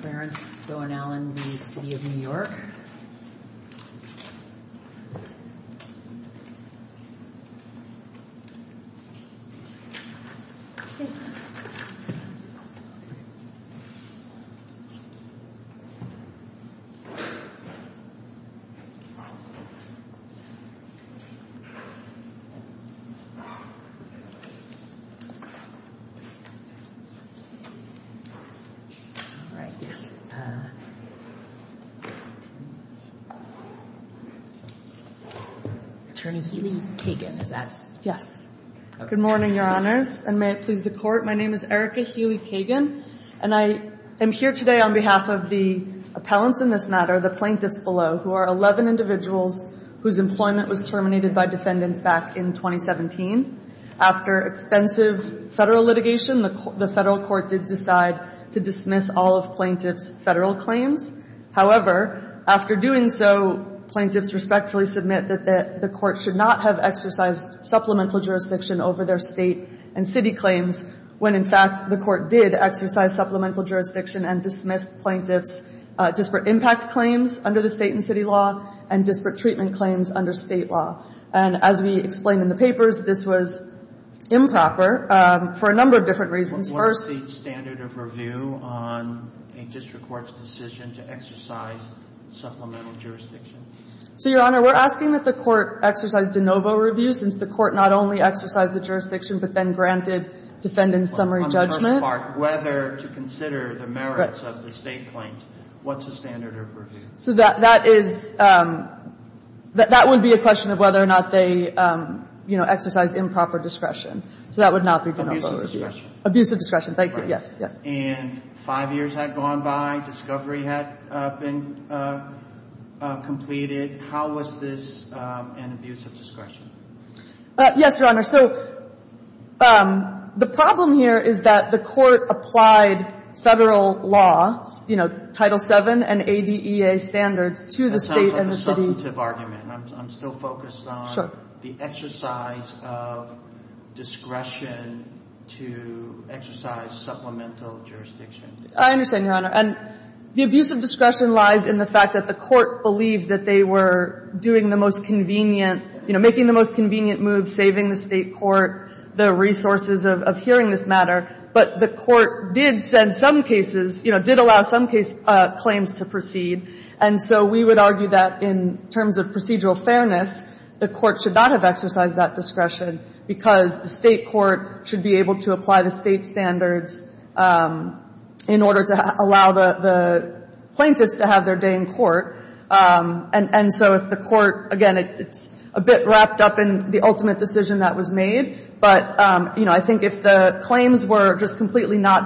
Clarence Bowen Allen v. City of New York Attorney Haley Kagan is that? Yes. Good morning, Your Honors, and may it please the Court. My name is Erica Haley Kagan, and I am here today on behalf of the appellants in this matter, the plaintiffs below, who are 11 individuals whose employment was terminated by defendants back in 2017. After extensive Federal litigation, the Federal Court did decide to dismiss all of plaintiffs' Federal claims. However, after doing so, plaintiffs respectfully submit that the Court should not have exercised supplemental jurisdiction over their State and City claims when, in fact, the Court did exercise supplemental jurisdiction and dismissed plaintiffs' disparate impact claims under the State and City law and disparate treatment claims under State law. And as we explained in the papers, this was improper for a number of different reasons. First — What is the standard of review on a district court's decision to exercise supplemental jurisdiction? So, Your Honor, we're asking that the Court exercise de novo review since the Court not only exercised the jurisdiction but then granted defendant's summary judgment. On the first part, whether to consider the merits of the State claims. Correct. What's the standard of review? So that is — that would be a question of whether or not they, you know, exercised improper discretion. So that would not be de novo review. Abusive discretion. Thank you. Yes. Yes. And five years had gone by. Discovery had been completed. How was this an abusive discretion? Yes, Your Honor. So the problem here is that the Court applied Federal law, you know, Title VII and ADEA standards to the State and the City. That sounds like a substantive argument. I'm still focused on the exercise of discretion to exercise supplemental jurisdiction. I understand, Your Honor. And the abusive discretion lies in the fact that the Court believed that they were doing the most convenient, you know, making the most convenient moves, saving the State court the resources of hearing this matter. But the Court did send some cases, you know, did allow some case claims to proceed. And so we would argue that in terms of procedural fairness, the Court should not have exercised that discretion because the State court should be able to apply the State standards in order to allow the plaintiffs to have their day in court. And so if the Court, again, it's a bit wrapped up in the ultimate decision that was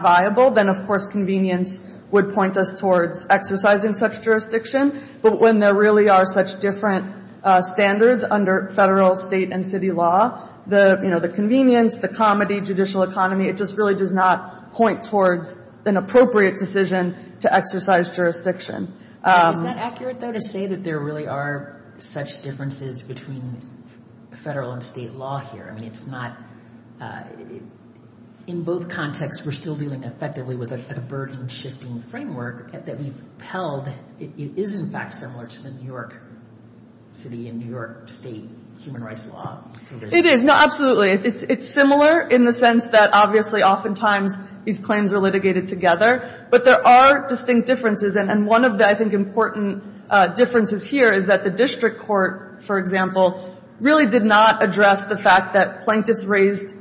viable, then, of course, convenience would point us towards exercising such jurisdiction. But when there really are such different standards under Federal, State, and City law, the, you know, the convenience, the comity, judicial economy, it just really does not point towards an appropriate decision to exercise jurisdiction. Is that accurate, though, to say that there really are such differences between Federal and State law here? I mean, it's not — in both contexts, we're still dealing effectively with a burden-shifting framework that we've held. It is, in fact, similar to the New York City and New York State human rights law. It is. No, absolutely. It's similar in the sense that, obviously, oftentimes these claims are litigated together. But there are distinct differences. And one of the, I mean, the New York State court, for example, really did not address the fact that plaintiffs raised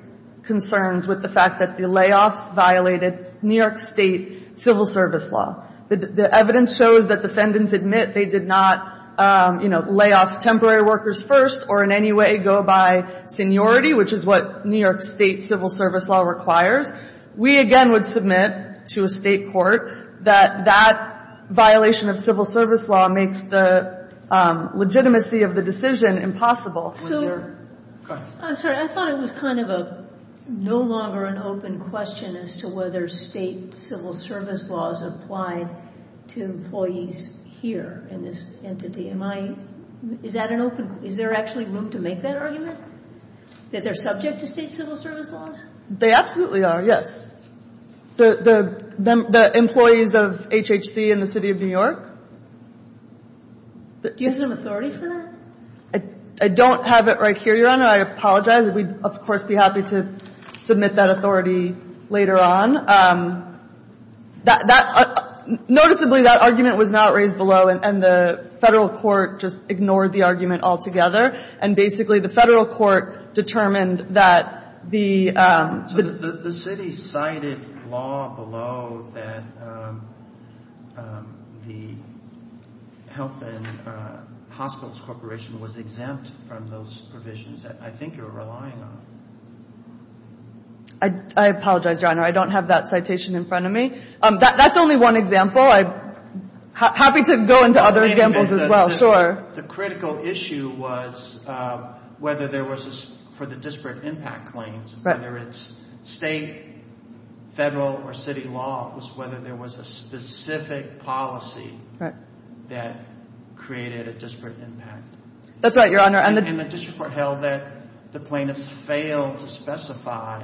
concerns with the fact that the layoffs violated New York State civil service law. The evidence shows that defendants admit they did not, you know, lay off temporary workers first or in any way go by seniority, which is what New York State civil service law requires. We, again, would submit to a State court that that violation of civil service law makes the legitimacy of the decision impossible. So — Go ahead. I'm sorry. I thought it was kind of a no longer an open question as to whether State civil service laws apply to employees here in this entity. Am I — is that an open — is there actually room to make that argument, that they're subject to State civil service laws? They absolutely are, yes. The employees of HHC in the City of New York — Do you have some authority for that? I don't have it right here, Your Honor. I apologize. We'd, of course, be happy to submit that authority later on. That — noticeably, that argument was not raised below, and the Federal court just ignored the argument altogether. And basically, the Federal court determined that the — So the City cited law below that the Health and Hospitals Corporation was exempt from those provisions that I think you're relying on. I apologize, Your Honor. I don't have that citation in front of me. That's only one example. I'm happy to go into other examples as well. Sure. The critical issue was whether there was a — for the disparate impact claims. Right. Whether it's State, Federal, or City law was whether there was a specific policy that created a disparate impact. That's right, Your Honor. And the — And the district court held that the plaintiffs failed to specify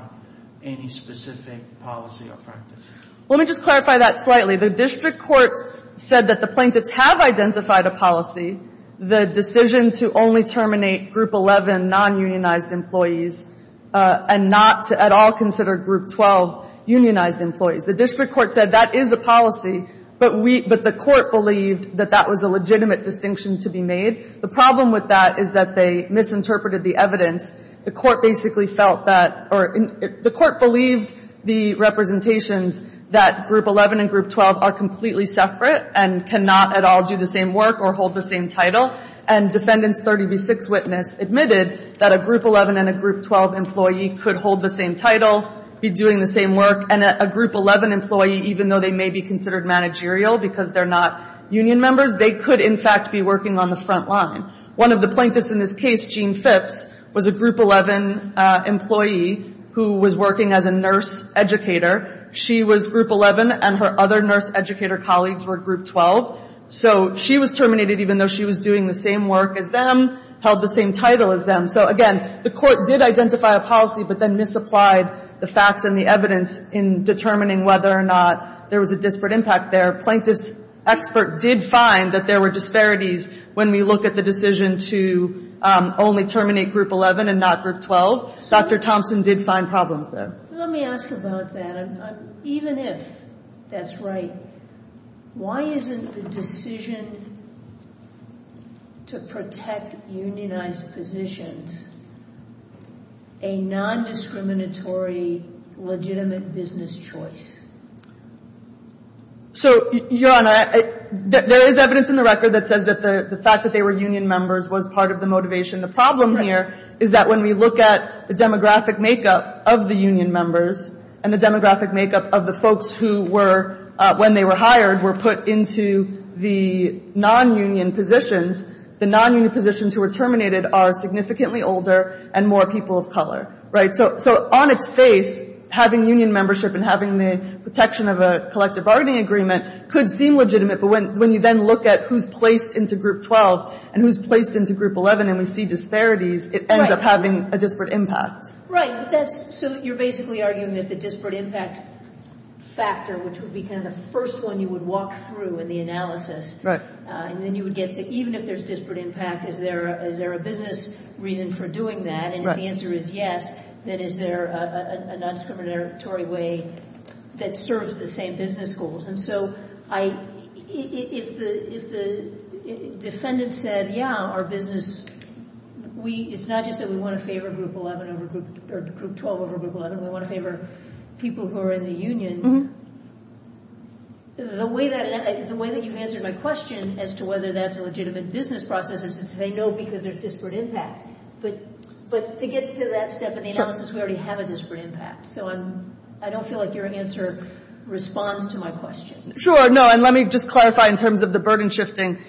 any specific policy or practice. Let me just clarify that slightly. The district court said that the plaintiffs have identified a policy, the decision to only terminate Group 11 non-unionized employees and not to at all consider Group 12 unionized employees. The district court said that is a policy, but we — but the court believed that that was a legitimate distinction to be made. The problem with that is that they misinterpreted the evidence. The court basically felt that — or the court believed the representations that Group 11 and Group 12 are completely separate and cannot at all do the same work or hold the same title. And Defendant's 30 v. 6 witness admitted that a Group 11 and a Group 12 employee could hold the same title, be doing the same work. And a Group 11 employee, even though they may be considered managerial because they're not union members, they could, in fact, be working on the front line. One of the plaintiffs in this case, Gene Phipps, was a Group 11 employee who was working as a nurse educator. She was Group 11, and her other nurse educator colleagues were Group 12. So she was terminated even though she was doing the same work as them, held the same title as them. So, again, the court did identify a policy but then misapplied the facts and the evidence in determining whether or not there was a disparate impact there. Plaintiff's expert did find that there were disparities when we look at the decision to only terminate Group 11 and not Group 12. Dr. Thompson did find problems there. Let me ask about that. Even if that's right, why isn't the decision to protect unionized positions a nondiscriminatory, legitimate business choice? So, Your Honor, there is evidence in the record that says that the fact that they were union members was part of the motivation. The problem here is that when we look at the demographic makeup of the union members and the demographic makeup of the folks who were, when they were hired, were put into the nonunion positions, the nonunion positions who were terminated are significantly older and more people of color, right? So on its face, having union membership and having the protection of a collective bargaining agreement could seem legitimate. But when you then look at who's placed into Group 12 and who's placed into Group 11 and we see disparities, it ends up having a disparate impact. Right. But that's, so you're basically arguing that the disparate impact factor, which would be kind of the first one you would walk through in the analysis. Right. And then you would get to, even if there's disparate impact, is there a business reason for doing that? Right. And if the answer is yes, then is there a nondiscriminatory way that serves the same business goals? And so if the defendant said, yeah, our business, it's not just that we want to favor Group 12 over Group 11, we want to favor people who are in the union, the way that you've answered my question as to whether that's a legitimate business process is to say no because there's disparate impact. But to get to that step in the analysis, we already have a disparate impact. So I don't feel like your answer responds to my question. Sure. No. And let me just clarify in terms of the burden shifting.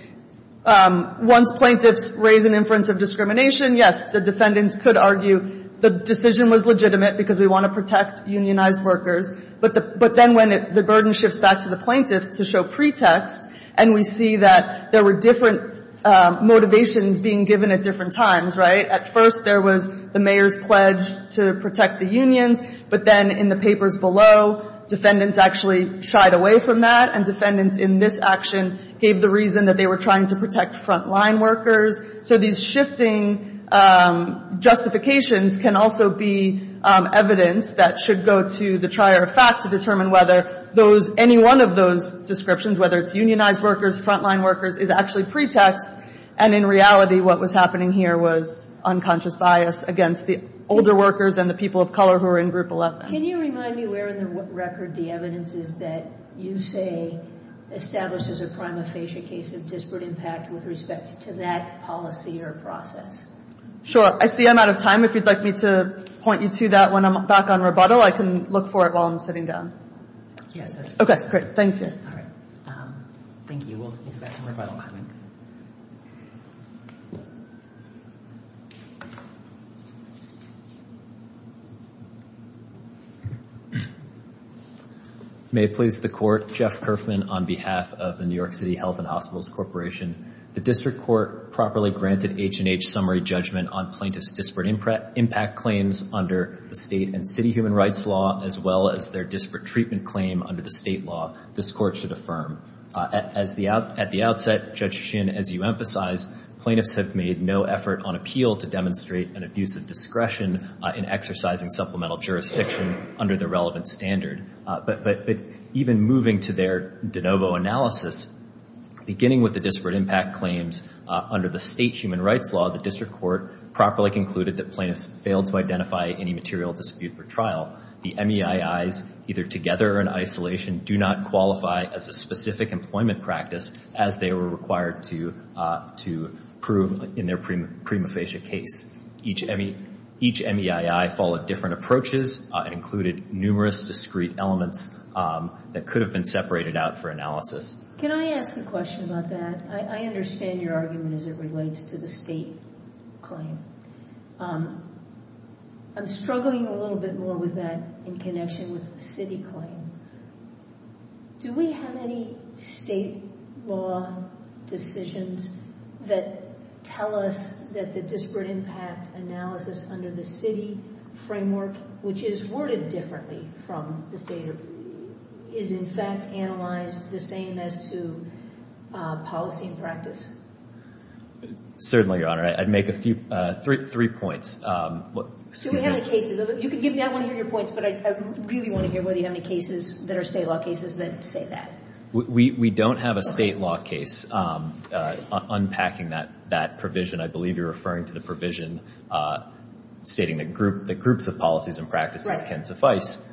Once plaintiffs raise an inference of discrimination, yes, the defendants could argue the decision was legitimate because we want to protect unionized workers. But then when the burden shifts back to the plaintiffs to show pretext, and we see that there were different motivations being given at different times. Right. At first, there was the mayor's pledge to protect the unions. But then in the papers below, defendants actually shied away from that, and defendants in this action gave the reason that they were trying to protect front-line workers. So these shifting justifications can also be evidence that should go to the trier of fact to determine whether any one of those descriptions, whether it's unionized workers, front-line workers, is actually pretext. And in reality, what was happening here was unconscious bias against the older workers and the people of color who were in group 11. Can you remind me where in the record the evidence is that you say establishes a prima facie case of disparate impact with respect to that policy or process? Sure. I see I'm out of time. If you'd like me to point you to that when I'm back on rebuttal, I can look for it while I'm sitting down. Yes. Okay. Great. Thank you. All right. Thank you. We'll move to the next rebuttal comment. May it please the Court, Jeff Kerfman on behalf of the New York City Health and Hospitals Corporation. The district court properly granted H&H summary judgment on plaintiff's disparate impact claims under the state and city human rights law, as well as their disparate treatment claim under the state law. This Court should affirm. At the outset, Judge Shin, as you emphasized, plaintiffs have made no effort on appeal to demonstrate an abuse of discretion in exercising supplemental jurisdiction under the relevant standard. But even moving to their de novo analysis, beginning with the disparate impact claims under the state human rights law, the district court properly concluded that plaintiffs failed to identify any material dispute for trial. The MEIIs, either together or in isolation, do not qualify as a specific employment practice as they were required to prove in their prima facie case. Each MEII followed different approaches and included numerous discrete elements that could have been separated out for analysis. Can I ask a question about that? I understand your argument as it relates to the state claim. I'm struggling a little bit more with that in connection with the city claim. Do we have any state law decisions that tell us that the disparate impact analysis under the city framework, which is worded differently from the state, is in fact analyzed the same as to policy and practice? Certainly, Your Honor. I'd make three points. I want to hear your points, but I really want to hear whether you have any cases that are state law cases that say that. We don't have a state law case unpacking that provision. I believe you're referring to the provision stating that groups of policies and practices can suffice.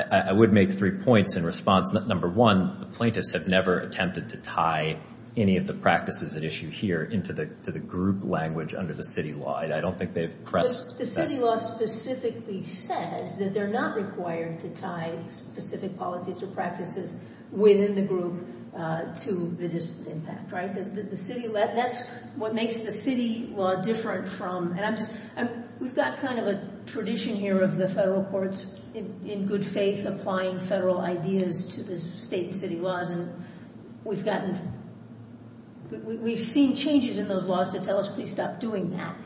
I would make three points in response. Number one, the plaintiffs have never attempted to tie any of the practices at issue here into the group language under the city law. I don't think they've pressed that. The city law specifically says that they're not required to tie specific policies or practices within the group to the disparate impact, right? That's what makes the city law different from. We've got kind of a tradition here of the federal courts, in good faith, applying federal ideas to the state and city laws. We've seen changes in those laws that tell us, please stop doing that.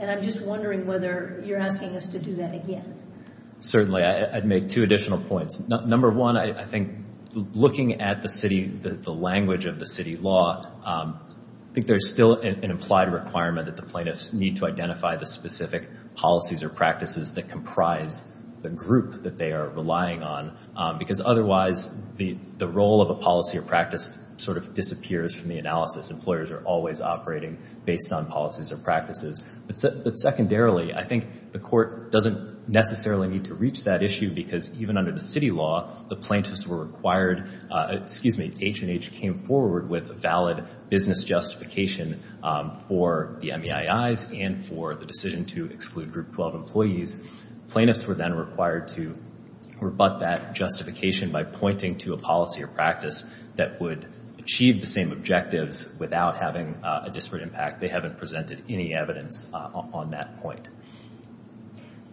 I'm just wondering whether you're asking us to do that again. Certainly. I'd make two additional points. Number one, I think looking at the language of the city law, I think there's still an implied requirement that the plaintiffs need to identify the specific policies or practices that comprise the group that they are relying on, because otherwise the role of a policy or practice sort of disappears from the Employers are always operating based on policies or practices. But secondarily, I think the court doesn't necessarily need to reach that issue because even under the city law, the plaintiffs were required, excuse me, H&H came forward with a valid business justification for the MEIIs and for the decision to exclude group 12 employees. Plaintiffs were then required to rebut that justification by pointing to a policy or practice that would achieve the same objectives without having a disparate impact. They haven't presented any evidence on that point.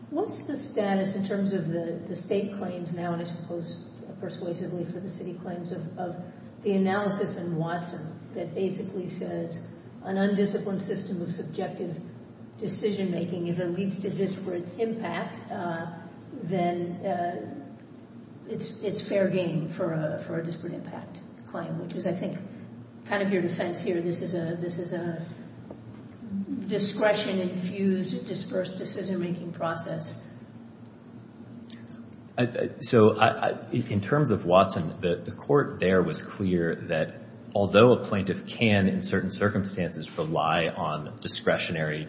What's the status in terms of the state claims now, and I suppose persuasively for the city claims of the analysis and Watson that basically says an undisciplined system of subjective decision-making if it leads to disparate impact, then it's fair game for a disparate impact claim, which is I think kind of your defense here. This is a, this is a discretion infused dispersed decision-making process. So in terms of Watson, the court there was clear that although a plaintiff can in certain cases use subjective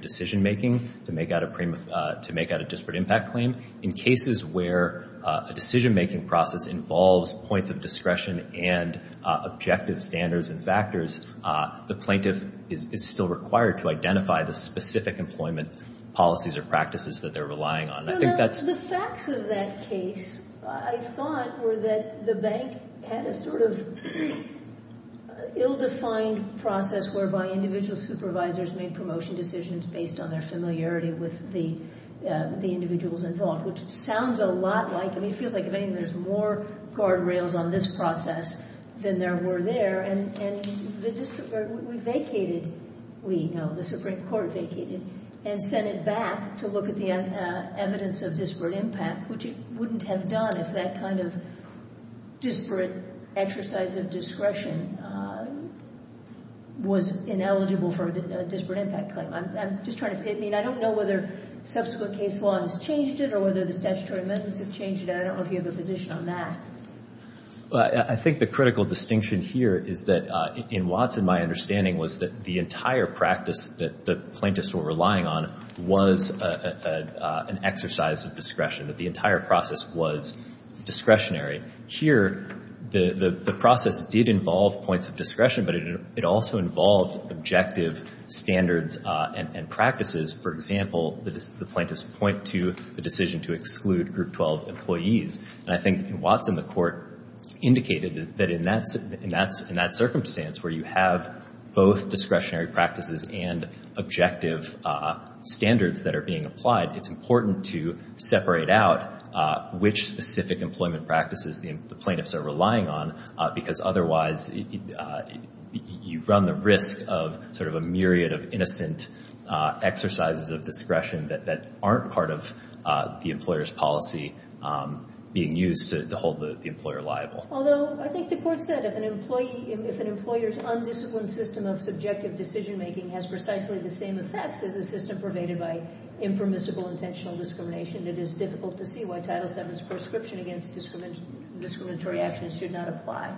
decision-making to make out a, to make out a disparate impact claim in cases where a decision-making process involves points of discretion and objective standards and factors, the plaintiff is still required to identify the specific employment policies or practices that they're relying on. I think that's. The facts of that case, I thought were that the bank had a sort of ill-defined process whereby individual supervisors made promotion decisions based on their familiarity with the individuals involved, which sounds a lot like, I mean, it feels like if anything, there's more guardrails on this process than there were there. And we vacated, we know, the Supreme Court vacated and sent it back to look at the evidence of disparate impact, which it wouldn't have done if that kind of disparate exercise of discretion had been eligible for a disparate impact claim. I'm just trying to, I mean, I don't know whether subsequent case law has changed it or whether the statutory amendments have changed it. I don't know if you have a position on that. Well, I think the critical distinction here is that in Watson, my understanding was that the entire practice that the plaintiffs were relying on was an exercise of discretion, that the entire process was discretionary. Here, the process did involve points of discretion, but it also involved objective standards and practices. For example, the plaintiffs point to the decision to exclude group 12 employees. And I think in Watson, the court indicated that in that circumstance where you have both discretionary practices and objective standards that are being applied, it's important to separate out which specific employment practices the plaintiffs are relying on because otherwise you run the risk of sort of a myriad of innocent exercises of discretion that aren't part of the employer's policy being used to hold the employer liable. Although I think the court said if an employee, if an employer's undisciplined system of subjective decision-making has precisely the same effects as a system pervaded by impermissible intentional discrimination, it is difficult to see why Title VII's proscription against discriminatory actions should not apply.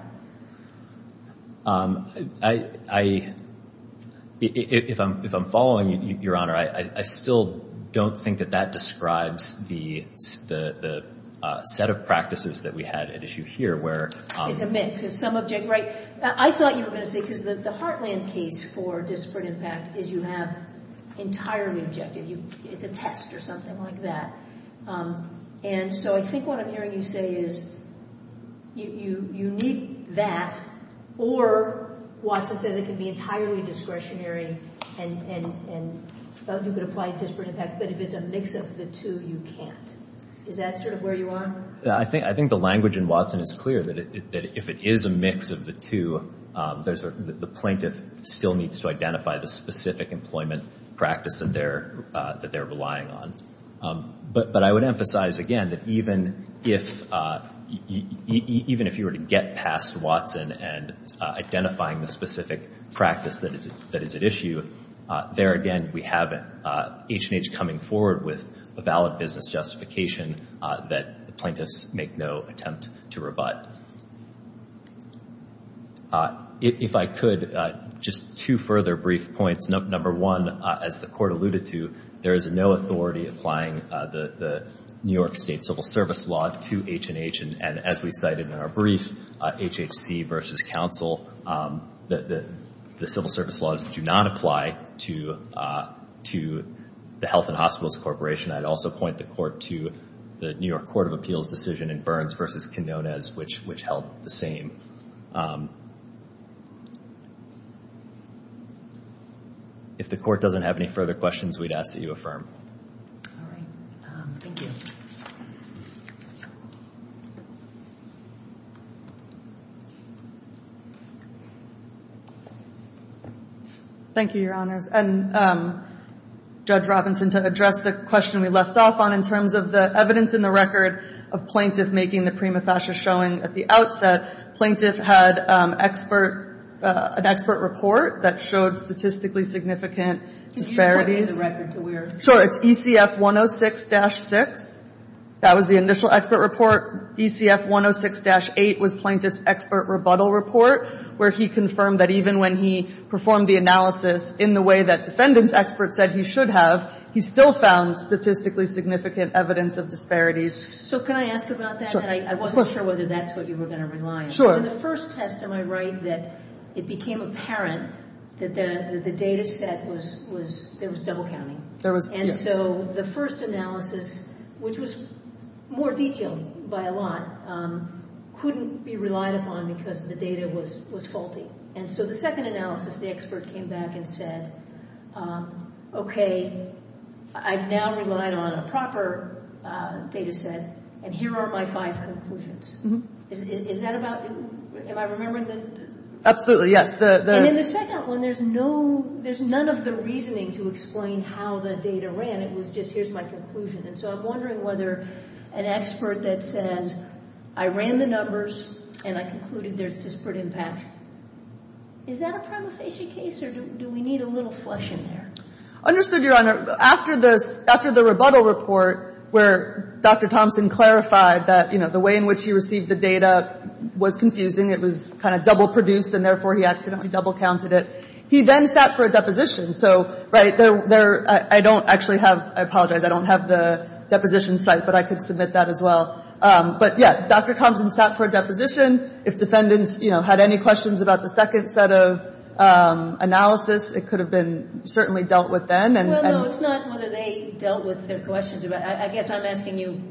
If I'm following, Your Honor, I still don't think that that describes the set of practices that we had at issue here where- It's a mix. I thought you were going to say, because the Heartland case for disparate impact is you have entirely objective. It's a test or something like that. And so I think what I'm hearing you say is you need that, or Watson says it can be entirely discretionary and you could apply disparate impact, but if it's a mix of the two, you can't. Is that sort of where you are? I think the language in Watson is clear that if it is a mix of the two, the plaintiff still needs to identify the specific employment practice that they're relying on. But I would emphasize again that even if you were to get past Watson and identifying the specific practice that is at issue, there again, we have H&H coming forward with a valid business justification that the plaintiffs make no attempt to rebut. If I could, just two further brief points. Number one, as the Court alluded to, there is no authority applying the New York State civil service law to H&H. And as we cited in our brief, HHC versus counsel, the civil service laws do not apply to the Health and Hospitals Corporation. I'd also point the Court to the New York Court of Appeals decision in Burns versus Quinonez, which held the same. If the Court doesn't have any further questions, we'd ask that you affirm. All right. Thank you. Thank you, Your Honors. And Judge Robinson, to address the question we left off on in terms of the evidence that Prima Fascia is showing at the outset, plaintiff had an expert report that showed statistically significant disparities. Could you point me to the record to where? Sure. It's ECF 106-6. That was the initial expert report. ECF 106-8 was plaintiff's expert rebuttal report where he confirmed that even when he performed the analysis in the way that defendant's expert said he should have, he still found statistically significant evidence of disparities. So can I ask about that? I wasn't sure whether that's what you were going to rely on. Sure. In the first test, am I right, that it became apparent that the data set was, there was double counting? There was, yes. And so the first analysis, which was more detailed by a lot, couldn't be relied upon because the data was faulty. And so the second analysis, the expert came back and said, okay, I've now relied on a proper data set and here are my five conclusions. Is that about, am I remembering? Absolutely, yes. And in the second one, there's no, there's none of the reasoning to explain how the data ran. It was just, here's my conclusion. And so I'm wondering whether an expert that says, I ran the numbers and I concluded there's disparate impact. Is that a prima facie case or do we need a little flush in there? Understood, Your Honor. After the rebuttal report where Dr. Thompson clarified that, you know, the way in which he received the data was confusing. It was kind of double produced and therefore he accidentally double counted it. He then sat for a deposition. So, right, there, I don't actually have, I apologize, I don't have the deposition site, but I could submit that as well. But, yeah, Dr. Thompson sat for a deposition. If defendants, you know, had any questions about the second set of analysis, it could have been certainly dealt with then. Well, no, it's not whether they dealt with their questions. I guess I'm asking you,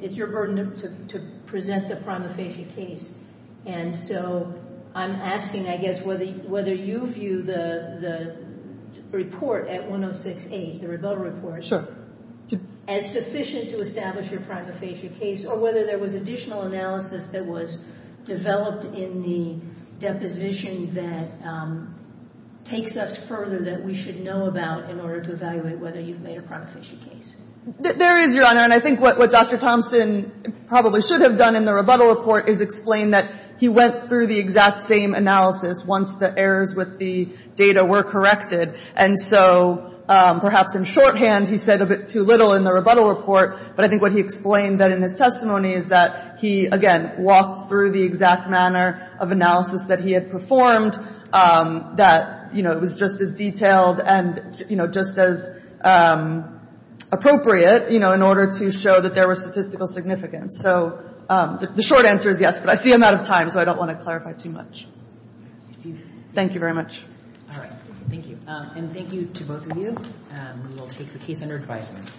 it's your burden to present the prima facie case. And so I'm asking, I guess, whether you view the report at 106-A, the rebuttal report, as sufficient to establish your prima facie case or whether there was additional analysis that was developed in the deposition that takes us further that we should know about in order to evaluate whether you've made a prima facie case. There is, Your Honor. And I think what Dr. Thompson probably should have done in the rebuttal report is explain that he went through the exact same analysis once the errors with the data were corrected. And so perhaps in shorthand, he said a bit too little in the rebuttal report, but I think what he explained in his testimony is that he, again, walked through the exact manner of analysis that he had performed, that, you know, it was just as detailed and, you know, just as appropriate, you know, in order to show that there was statistical significance. So the short answer is yes, but I see I'm out of time, so I don't want to clarify too much. Thank you very much. All right. Thank you. And thank you to both of you. We will take the case under advisement.